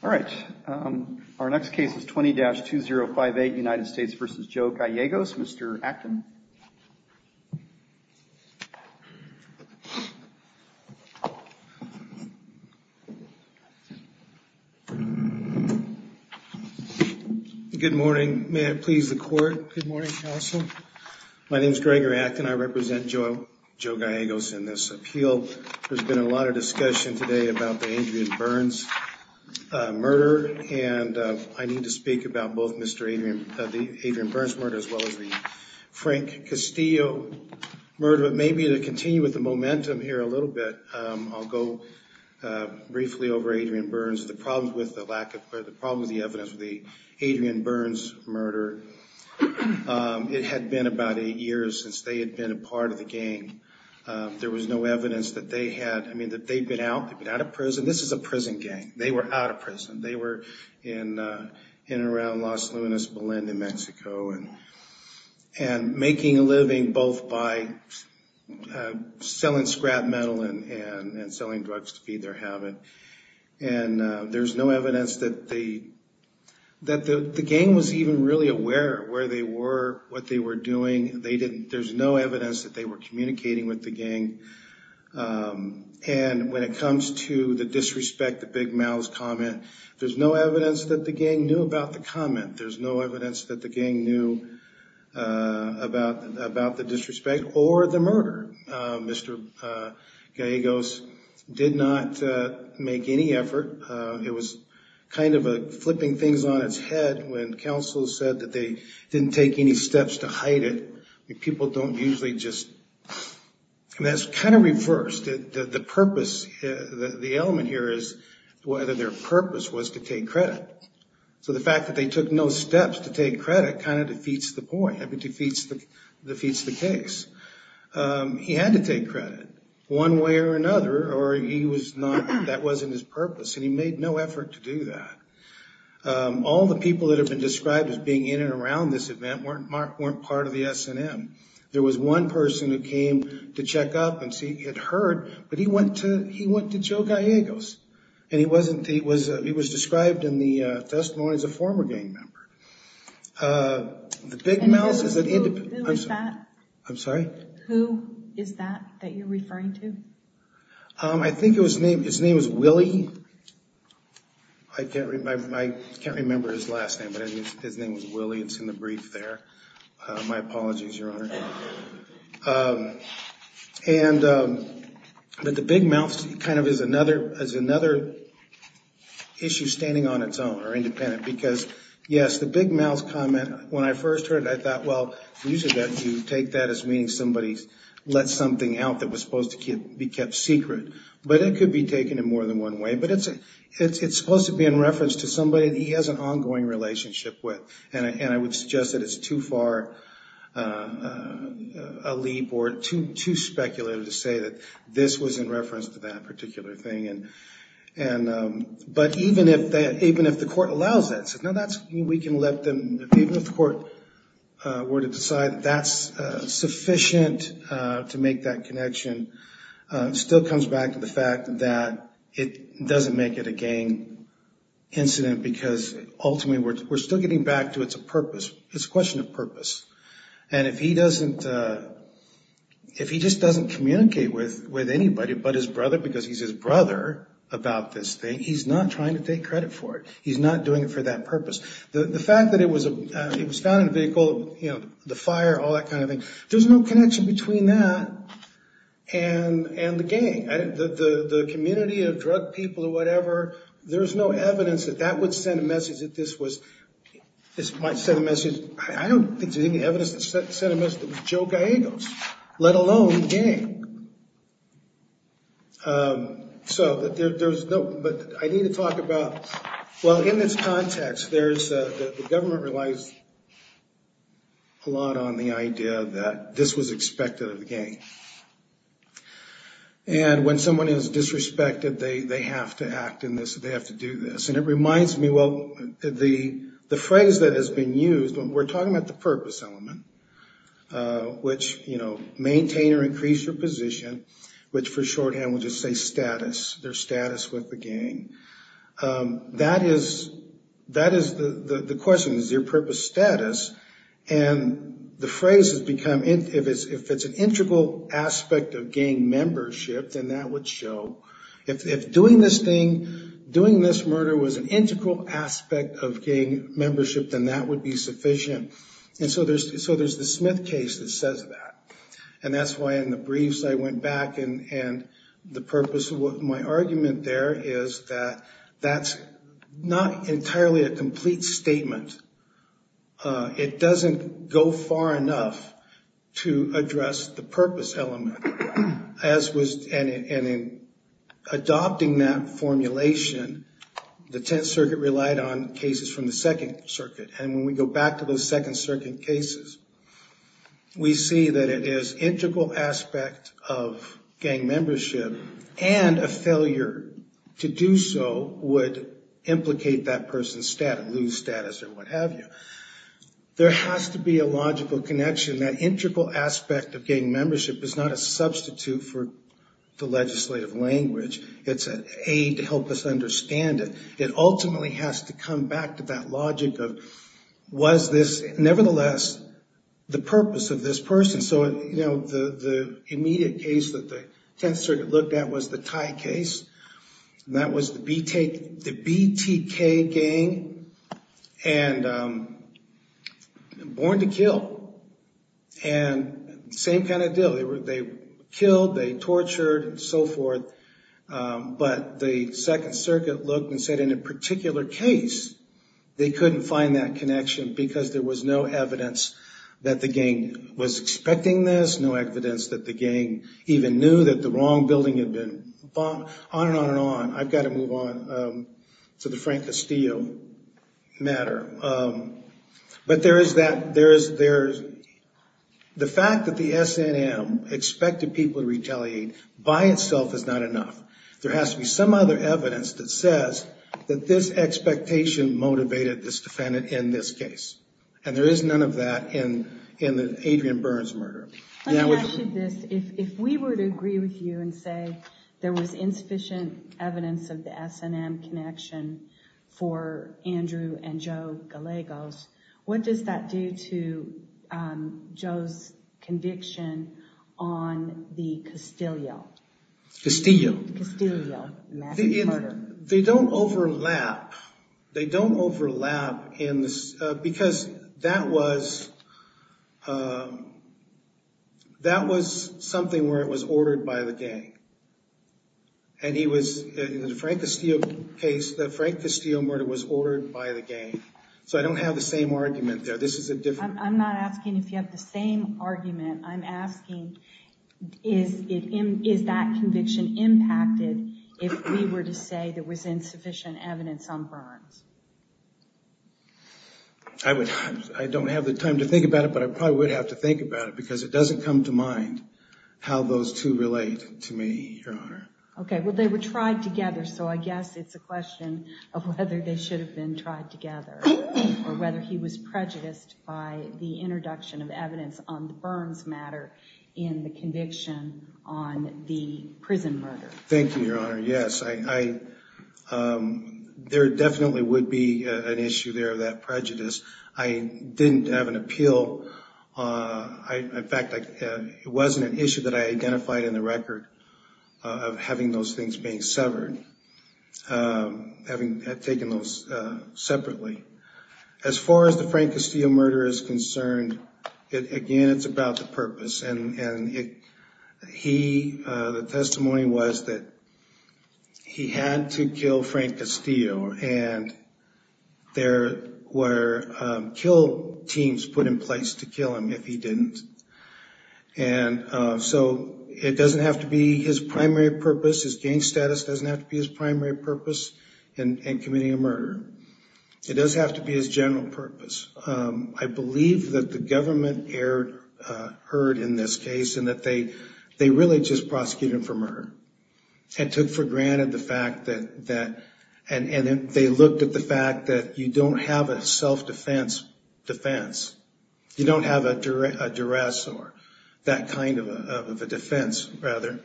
All right, our next case is 20-2058 United States v. Joe Gallegos, Mr. Atkin. Good morning. May it please the court. Good morning, counsel. My name is Gregor Atkin. I represent Joe Gallegos in this appeal. There's been a lot of discussion today about the Adrian Burns murder as well as the Frank Castillo murder. But maybe to continue with the momentum here a little bit, I'll go briefly over Adrian Burns, the problems with the lack of, or the problem with the evidence of the Adrian Burns murder. It had been about eight years since they had been a part of the gang. There was no evidence that they had, I mean, that they'd been out, they'd been out of prison. This is a prison gang. They were out of prison. They were in and around Los Lunes, Belen, New Mexico, and making a living both by selling scrap metal and selling drugs to feed their habit. And there's no evidence that the gang was even really aware of where they were, what they were doing. They didn't, there's no evidence that they were communicating with the gang. And when it comes to the disrespect, the big mouths comment, there's no evidence that the gang knew about the comment. There's no evidence that the gang knew about the disrespect or the murder. Mr. Gallegos did not make any effort. It was kind of flipping things on its head when counsel said that they didn't take any steps to hide it. People don't usually just, and that's kind of reversed. The purpose, the element here is whether their purpose was to take credit. So the fact that they took no steps to take credit kind of defeats the point, defeats the case. He had to take credit, one way or another, or he was not, that wasn't his purpose. And he made no effort to do that. All the people that have been described as being in and around this event weren't part of the S&M. There was one person who came to check up and see, had heard, but he went to Joe Gallegos. And he wasn't, he was described in the testimony as a former gang member. The big mouths, I'm sorry? Who is that that you're referring to? I think his name was Willie. I can't remember his last name, but his name was Willie. It's in the Big Mouths. The Big Mouths kind of is another issue standing on its own or independent because yes, the Big Mouths comment, when I first heard it, I thought, well, you take that as meaning somebody let something out that was supposed to be kept secret. But it could be taken in more than one way. But it's supposed to be in reference to somebody that he has an ongoing relationship with. And I would suggest that it's too far a leap or too speculative to say that this was in reference to that particular thing. But even if the court allows that, even if the court were to decide that that's sufficient to make that connection, it still comes back to the fact that it doesn't make it a gang incident because ultimately we're still getting back to it's a purpose. It's a question of purpose. And if he doesn't, if he just doesn't communicate with anybody but his brother, because he's his brother about this thing, he's not trying to take credit for it. He's not doing it for that purpose. The fact that it was found in a vehicle, the fire, all that kind of thing, there's no connection between that and the gang. The community of drug people or whatever, there's no evidence that that would send a message that this was, this might send a message, I don't think there's any evidence to send a message that it was Joe Gallegos, let alone the gang. So there's no, but I need to talk about, well, in this context, there's, the government relies a lot on the idea that this was expected of the gang. And when someone is disrespected, they have to act in this, they have to do this. And it reminds me, well, the phrase that has been used, we're talking about the purpose element, which, you know, maintain or increase your position, which for shorthand would just say status, their status with the gang. That is, that is the question, is there purpose status? And the phrase has become, if it's an integral aspect of gang membership, then that would show, if doing this thing, doing this murder was an integral aspect of gang membership, then that would be sufficient. And so there's, so there's the Smith case that says that. And that's why in the briefs I went back and, and the purpose of what my argument there is that that's not entirely a complete statement. It doesn't go far enough to address the purpose element, as was, and adopting that formulation, the Tenth Circuit relied on cases from the Second Circuit. And when we go back to those Second Circuit cases, we see that it is integral aspect of gang membership and a failure to do so would implicate that person's status, lose status or what have you. There has to be a logical connection. That integral aspect of gang membership is not a substitute for the legislative language. It's an aid to help us understand it. It ultimately has to come back to that logic of, was this nevertheless the purpose of this person? So, you know, the immediate case that the Tenth Circuit looked at was the Thai case. That was the BTK gang and born to kill. And same kind of deal. They were, they killed, they tortured and so forth. But the Second Circuit looked and said in a particular case, they couldn't find that connection because there was no evidence that the gang was expecting this, no evidence that the gang even knew that the wrong building had been bombed, on and on and on. I've got to move on to the Frank Castillo matter. But there is that, there is, there's the fact that the SNM expected people to retaliate by itself is not enough. There has to be some other evidence that says that this expectation motivated this defendant in this case. And there is none of that in, in the Adrian Burns murder. Let me ask you this, if we were to agree with you and say there was insufficient evidence of the SNM connection for Andrew and Joe Gallegos, what does that do to Joe's conviction on the Castillo? Castillo. Massive murder. They don't overlap. They don't overlap in this, because that was, that was something where it was ordered by the gang. And he was, in the Frank Castillo case, the Frank Castillo murder was ordered by the gang. So I don't have the same argument there. This is a different. I'm not asking if you have the same argument. I'm asking, is it, is that conviction impacted if we were to say there was insufficient evidence on Burns? I would, I don't have the time to think about it, but I probably would have to think about it because it doesn't come to mind how those two relate to me, Your Honor. Okay. Well, they were tried together. So I guess it's a question of whether they should have been tried together or whether he was prejudiced by the introduction of evidence on the Burns matter in the conviction on the prison murder. Thank you, Your Honor. Yes, I, there definitely would be an issue there of that prejudice. I didn't have an appeal. In fact, it wasn't an issue that I identified in the record of having those things being severed, having taken those separately. As far as the Frank Castillo murder is concerned, again, it's about the purpose. And he, the testimony was that he had to kill Frank Castillo and there were kill teams put in place to kill him if he didn't. And so it doesn't have to be his primary purpose. His gang status doesn't have to be his primary purpose in committing a murder. It does have to be his general purpose. I believe that the government heard in this case and that they really just prosecuted him for murder and took for granted the fact that, and they looked at the fact that you don't have a self-defense defense. You don't have a duress or that kind of a defense, rather.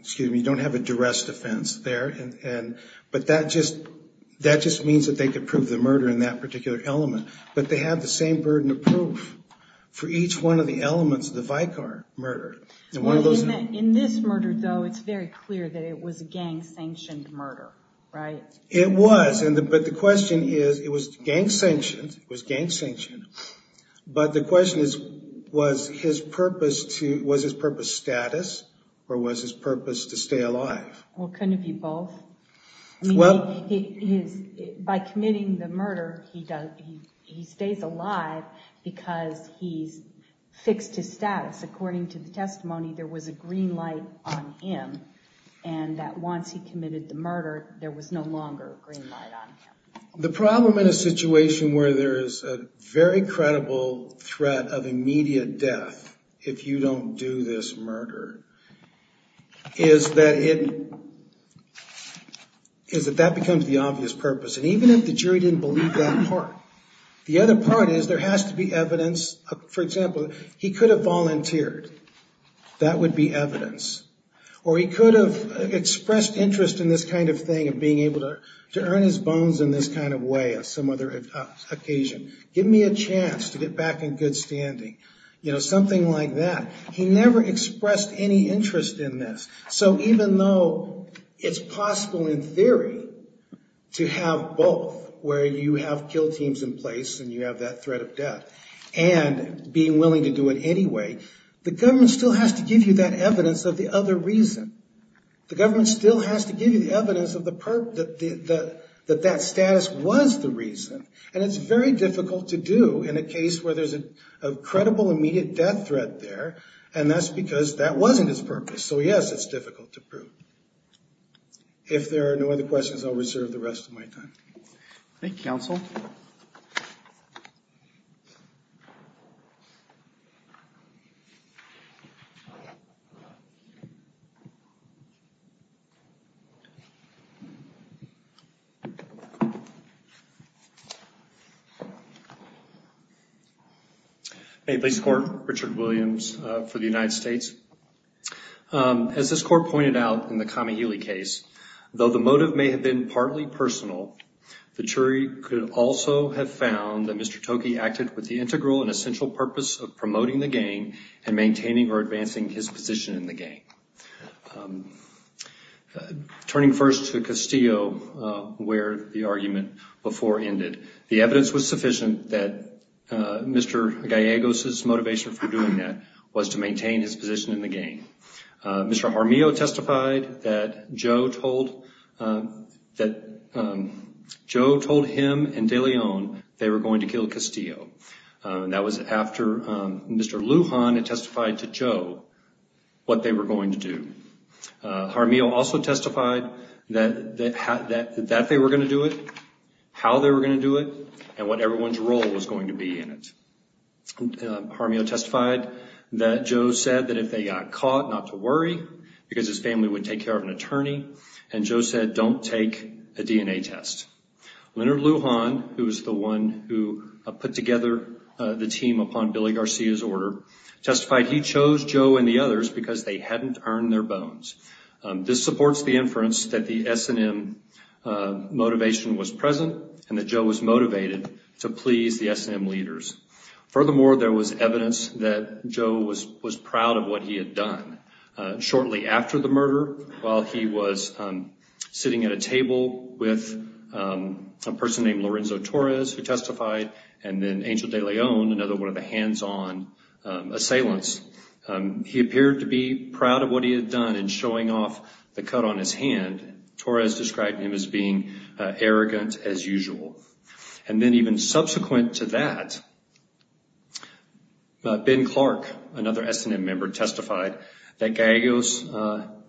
Excuse me, you don't have a duress defense there. But that just means that they could prove the murder in that particular element. But they have the same burden of proof for each one of the elements of the Vicar murder. In this murder, though, it's very clear that it was a gang-sanctioned murder, right? It was. But the question is, it was gang-sanctioned. It was gang-sanctioned. But the question is, was his purpose to, was his purpose status or was his purpose to stay alive? Well, couldn't it be both? By committing the murder, he stays alive because he's fixed his status. According to the testimony, there was a green light on him and that once he committed the murder, there was no longer a green light on him. The problem in a situation where there is a very credible threat of immediate death if you don't do this murder is that it, is that that becomes the obvious purpose. And even if the jury didn't believe that part, the other part is there has to be evidence. For example, he could have volunteered. That would be evidence. Or he could have expressed interest in this kind of thing of being able to earn his chance to get back in good standing. You know, something like that. He never expressed any interest in this. So even though it's possible in theory to have both where you have kill teams in place and you have that threat of death and being willing to do it anyway, the government still has to give you that evidence of the other reason. The government still has to give you the evidence of the purpose, that that status was the reason. And it's very difficult to do in a case where there's a credible immediate death threat there. And that's because that wasn't his purpose. So yes, it's difficult to prove. If there are no other questions, I'll reserve the rest of my time. Thank you, counsel. Hey, police court. Richard Williams for the United States. As this court pointed out in the Kamihili case, though the motive may have been partly personal, the jury could also have found that Mr. Toki acted with the integral and essential purpose of promoting the gang and maintaining or advancing his position in the gang. Turning first to Castillo where the argument before ended, the evidence was sufficient that Mr. Gallegos' motivation for doing that was to maintain his position in the gang. Mr. Jaramillo testified that Joe told him and DeLeon they were going to kill Castillo. That was after Mr. Lujan testified to Joe what they were going to do. Jaramillo also testified that they were going to do it, how they were going to do it, and what everyone's role was going to be in it. Jaramillo testified that Joe said that if they got caught, not to worry, because his family would take care of an attorney. And Joe said, don't take a DNA test. Leonard Lujan, who was the one who put together the team upon Billy Garcia's order, testified he chose Joe and the others because they hadn't earned their bones. This supports the inference that the S&M motivation was present and Joe was motivated to please the S&M leaders. Furthermore, there was evidence that Joe was proud of what he had done. Shortly after the murder, while he was sitting at a table with a person named Lorenzo Torres who testified, and then Angel DeLeon, another one of the hands-on assailants, he appeared to be proud of what he had done in showing off the cut on his hand. Torres described him as being arrogant as usual. And then even subsequent to that, Ben Clark, another S&M member, testified that Gallegos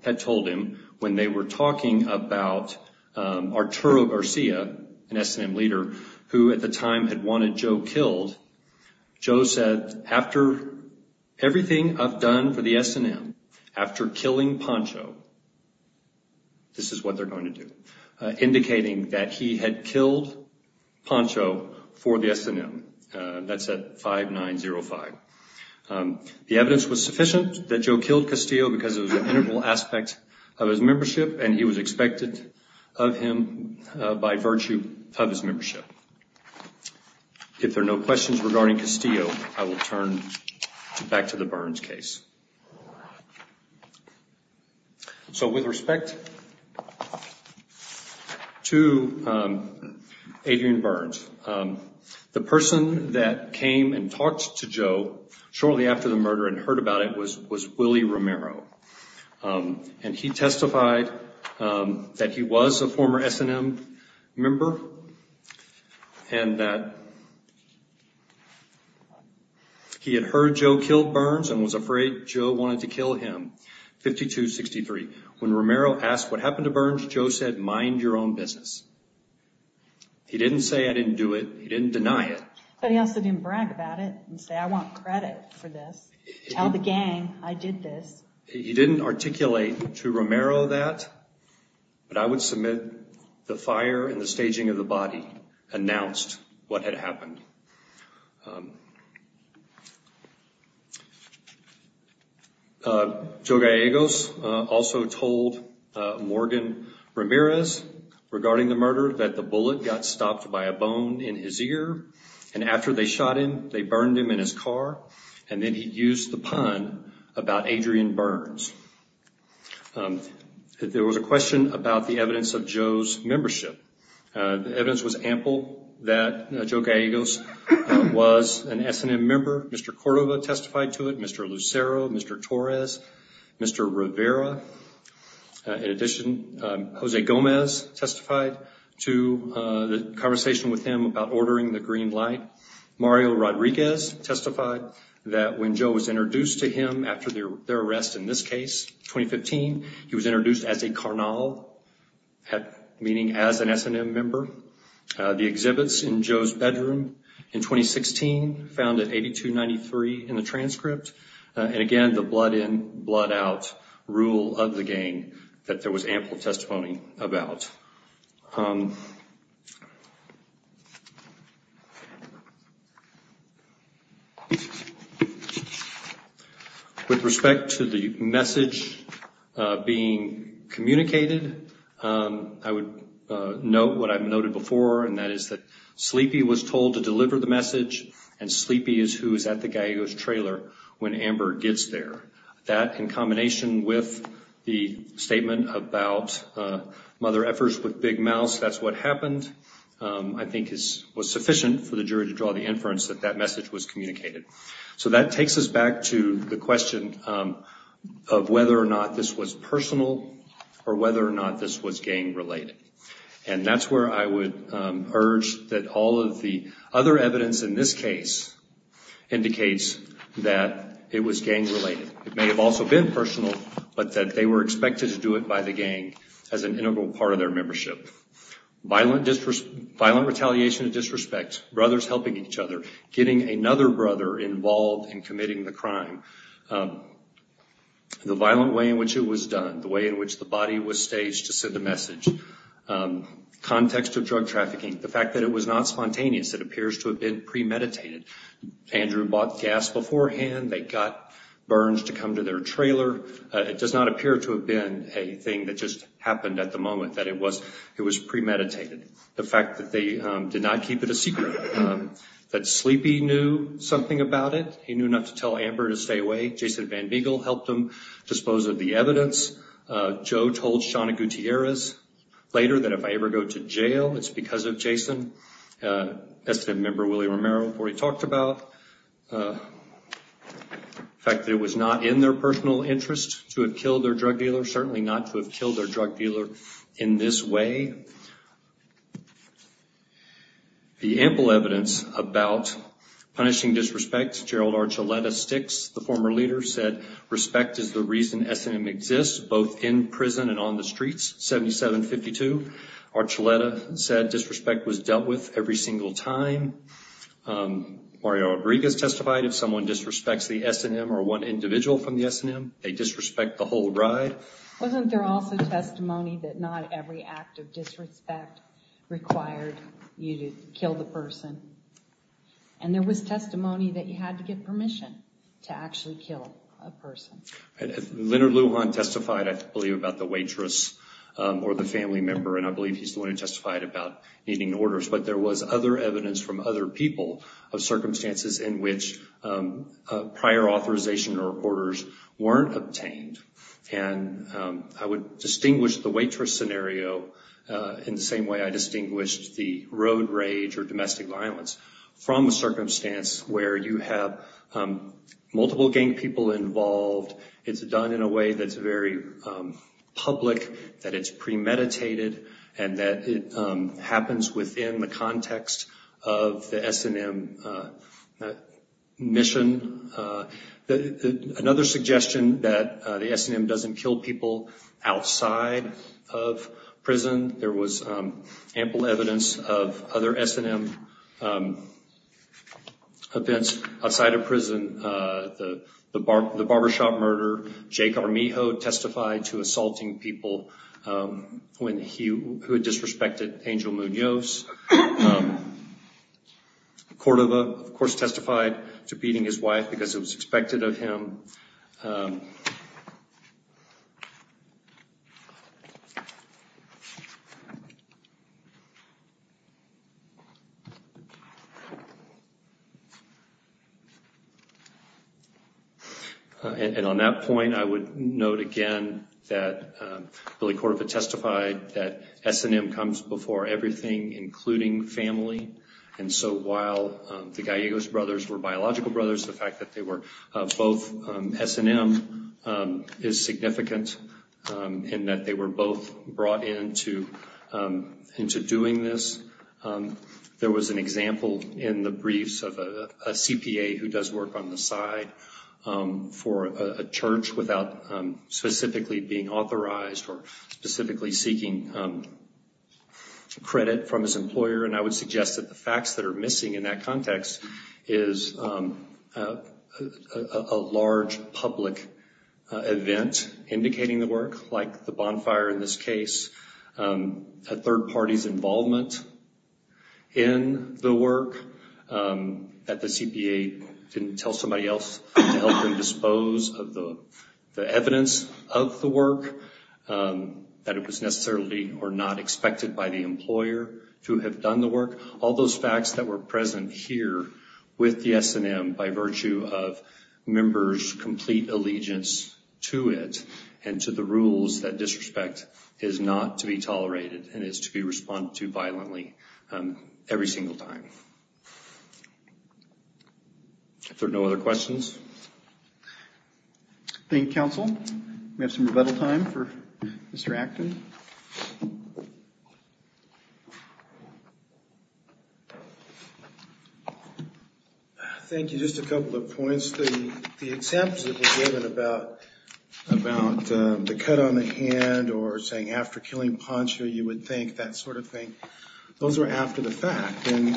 had told him when they were talking about Arturo Garcia, an S&M leader, who at the time had wanted Joe killed, Joe said, after everything I've done for the S&M, after killing Poncho, this is what they're going to do, indicating that he had killed Poncho for the S&M. That's at 5905. The evidence was sufficient that Joe killed Castillo because it was an integral aspect of his membership and he was expected of him by virtue of his membership. If there are no questions regarding Castillo, I will turn back to the Burns case. So with respect to Adrian Burns, the person that came and talked to Joe shortly after the murder and heard about it was Willie Romero. And he testified that he was a former S&M member and that he had heard Joe killed Burns and was afraid Joe wanted to kill him, 5263. When Romero asked what happened to Burns, Joe said, mind your own business. He didn't say I didn't do it. He didn't deny it. But he also didn't brag about it and say, I want credit for this. Tell the gang I did this. He didn't articulate to Romero that, but I would submit the fire and the staging of the body announced what had happened. Joe Gallegos also told Morgan Ramirez regarding the murder that the bullet got stopped by a bone in his ear and after they shot him, they burned him in his car and then he used the pun about Adrian Burns. There was a question about the evidence of Joe's membership. The evidence was ample that Joe Gallegos was an S&M member. Mr. Cordova testified to it, Mr. Lucero, Mr. Torres, Mr. Rivera. In addition, Jose Gomez testified to the conversation with him about ordering the green light. Mario Rodriguez testified that when Joe was introduced to him after their arrest in this case, 2015, he was introduced as a carnal, meaning as an S&M member. The exhibits in Joe's blood out rule of the gang that there was ample testimony about. With respect to the message being communicated, I would note what I've noted before and that is that Sleepy was told to deliver the message and Sleepy is who is at the Gallegos trailer when Amber gets there. That in combination with the statement about Mother Effers with Big Mouse, that's what happened. I think it was sufficient for the jury to draw the inference that that message was communicated. That takes us back to the question of whether or not this was personal or whether or not this was gang related. That's where I would urge that all of the other evidence in this case indicates that it was gang related. It may have also been personal, but that they were expected to do it by the gang as an integral part of their membership. Violent retaliation and disrespect. Brothers helping each other. Getting another brother involved in committing the crime. The violent way in which it was done. The way in which the body was staged to send a message. Context of drug trafficking. The fact that it was not spontaneous. It appears to have been premeditated. Andrew bought gas beforehand. They got Burns to come to their trailer. It does not appear to have been a thing that just happened at the moment, that it was premeditated. The fact that they did not keep it a secret. That Sleepy knew something about it. He knew not to tell Amber to stay away. Jason Van Beegle helped him dispose of the evidence. Joe told Shawna Gutierrez later that if I ever go to jail, it's because of Jason. S&M member Willie Romero already talked about the fact that it was not in their personal interest to have killed their drug dealer. Certainly not to have killed their drug dealer in this way. The ample evidence about punishing disrespect. Gerald Archuleta Sticks, the former leader, said respect is the reason S&M exists, both in prison and on the streets. 77-52. Archuleta said disrespect was dealt with every single time. Mario Rodriguez testified if someone disrespects the S&M or one individual from the S&M, they disrespect the whole ride. Wasn't there also testimony that not every act of disrespect required you to kill the person? And there was testimony that you had to get permission to actually kill a person. Leonard Lujan testified, I believe, about the waitress or the family member. And I believe he's the one who testified about needing orders. But there was other evidence from other people of circumstances in which prior authorization or orders weren't obtained. And I would distinguish the waitress scenario in the same way I distinguished the road rage or domestic violence from a circumstance where you have multiple gang people involved. It's done in a way that's very public, that it's premeditated, and that it happens within the context of the S&M mission. Another suggestion that the S&M doesn't kill people outside of prison. There was an event outside of prison, the barbershop murder. Jacob Armijo testified to assaulting people who had disrespected Angel Munoz. Cordova, of course, testified to beating his wife because it was expected of him. And on that point, I would note again that Billy Cordova testified that S&M comes before everything, including family. And so while the Gallegos brothers were biological brothers, the fact that they were both S&M is significant in that they were both brought into doing this. There was an example in the briefs of a CPA who does work on the side for a church without specifically being authorized or specifically seeking credit from his employer. And I would suggest that the facts that are missing in that context is a large public event indicating the work, like the bonfire in this case, a third party's involvement in the work, that the CPA didn't tell somebody else to help him dispose of the evidence of the work, that it was necessarily or not expected by the employer to have done the work. All those facts that were present here with the S&M by virtue of members' complete allegiance to it and to the rules that disrespect is not to be tolerated and is to be responded to violently every single time. If there are no other questions. Thank you, counsel. We have some rebuttal time for Mr. Acton. Thank you. Just a couple of points. The exempts that were given about the cut on the hand or saying after killing Poncho, you would think, that sort of thing, those were after the fact. And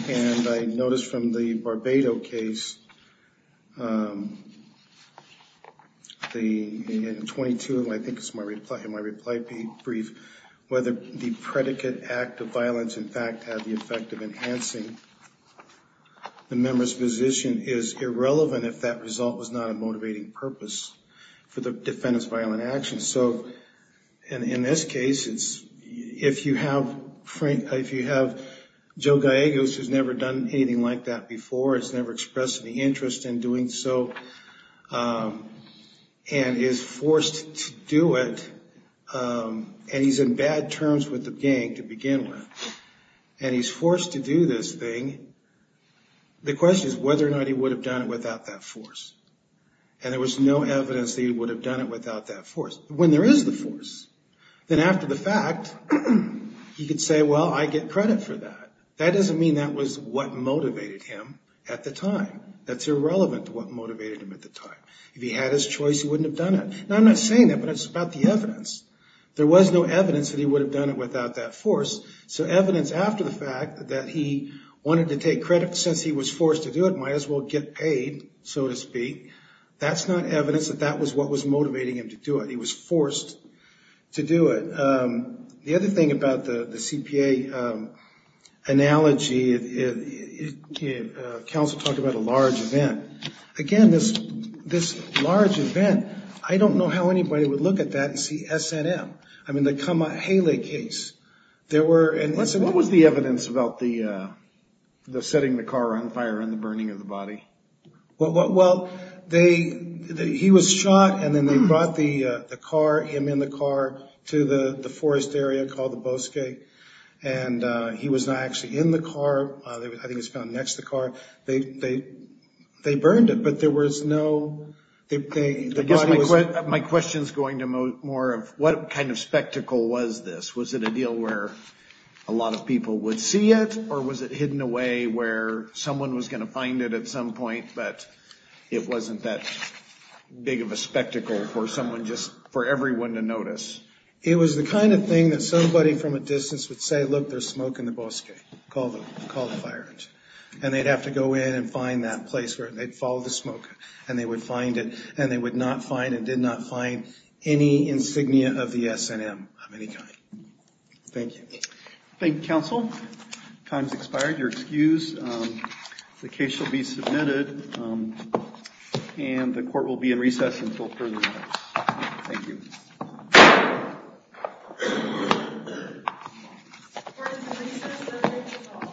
I noticed from the Barbado case, in 22, I think it's in my reply brief, whether the predicate act of violence in fact had the effect of enhancing the member's position is irrelevant if that result was not a motivating purpose for the defendant's violent action. So in this case, if you have Joe Gallegos who's never done anything like that before, has never expressed any interest in doing so, and is forced to do it, and he's in bad terms with the gang to begin with, and he's forced to do this thing, the question is whether or not he would have done it without that force. And there was no evidence that he would have done it without that force. When there is the force, then after the fact, you could say, well, I get credit for that. That doesn't mean that was what motivated him at the time. That's irrelevant to what motivated him at the time. If he had his There was no evidence that he would have done it without that force. So evidence after the fact that he wanted to take credit, since he was forced to do it, might as well get paid, so to speak. That's not evidence that that was what was motivating him to do it. He was forced to do it. The other thing about the CPA analogy, counsel talked about a large event. Again, this large event, I don't know how anybody would look at that and see SNM. I mean, the Kama Hele case. What was the evidence about the setting the car on fire and the burning of the body? Well, he was shot and then they brought him in the car to the forest area called the Bosque, and he was not actually in the car. I think he was found next to the car. They burned it, but there was no... My question is going to more of what kind of spectacle was this? Was it a deal where a lot of people would see it, or was it hidden away where someone was going to find it at some point, but it wasn't that big of a spectacle for someone, just for everyone to notice? It was the kind of thing that somebody from a distance would say, look, there's smoke in the Bosque, call the fire engine. And they'd have to go in and find that place where they'd follow the smoke, and they would find it, and they would not find, and did not find any insignia of the SNM of any kind. Thank you. Thank you, counsel. Time's expired. You're excused. The case shall be submitted, and the court will be in recess until further notice. Thank you. The court is in recess. The case is over. Thank you.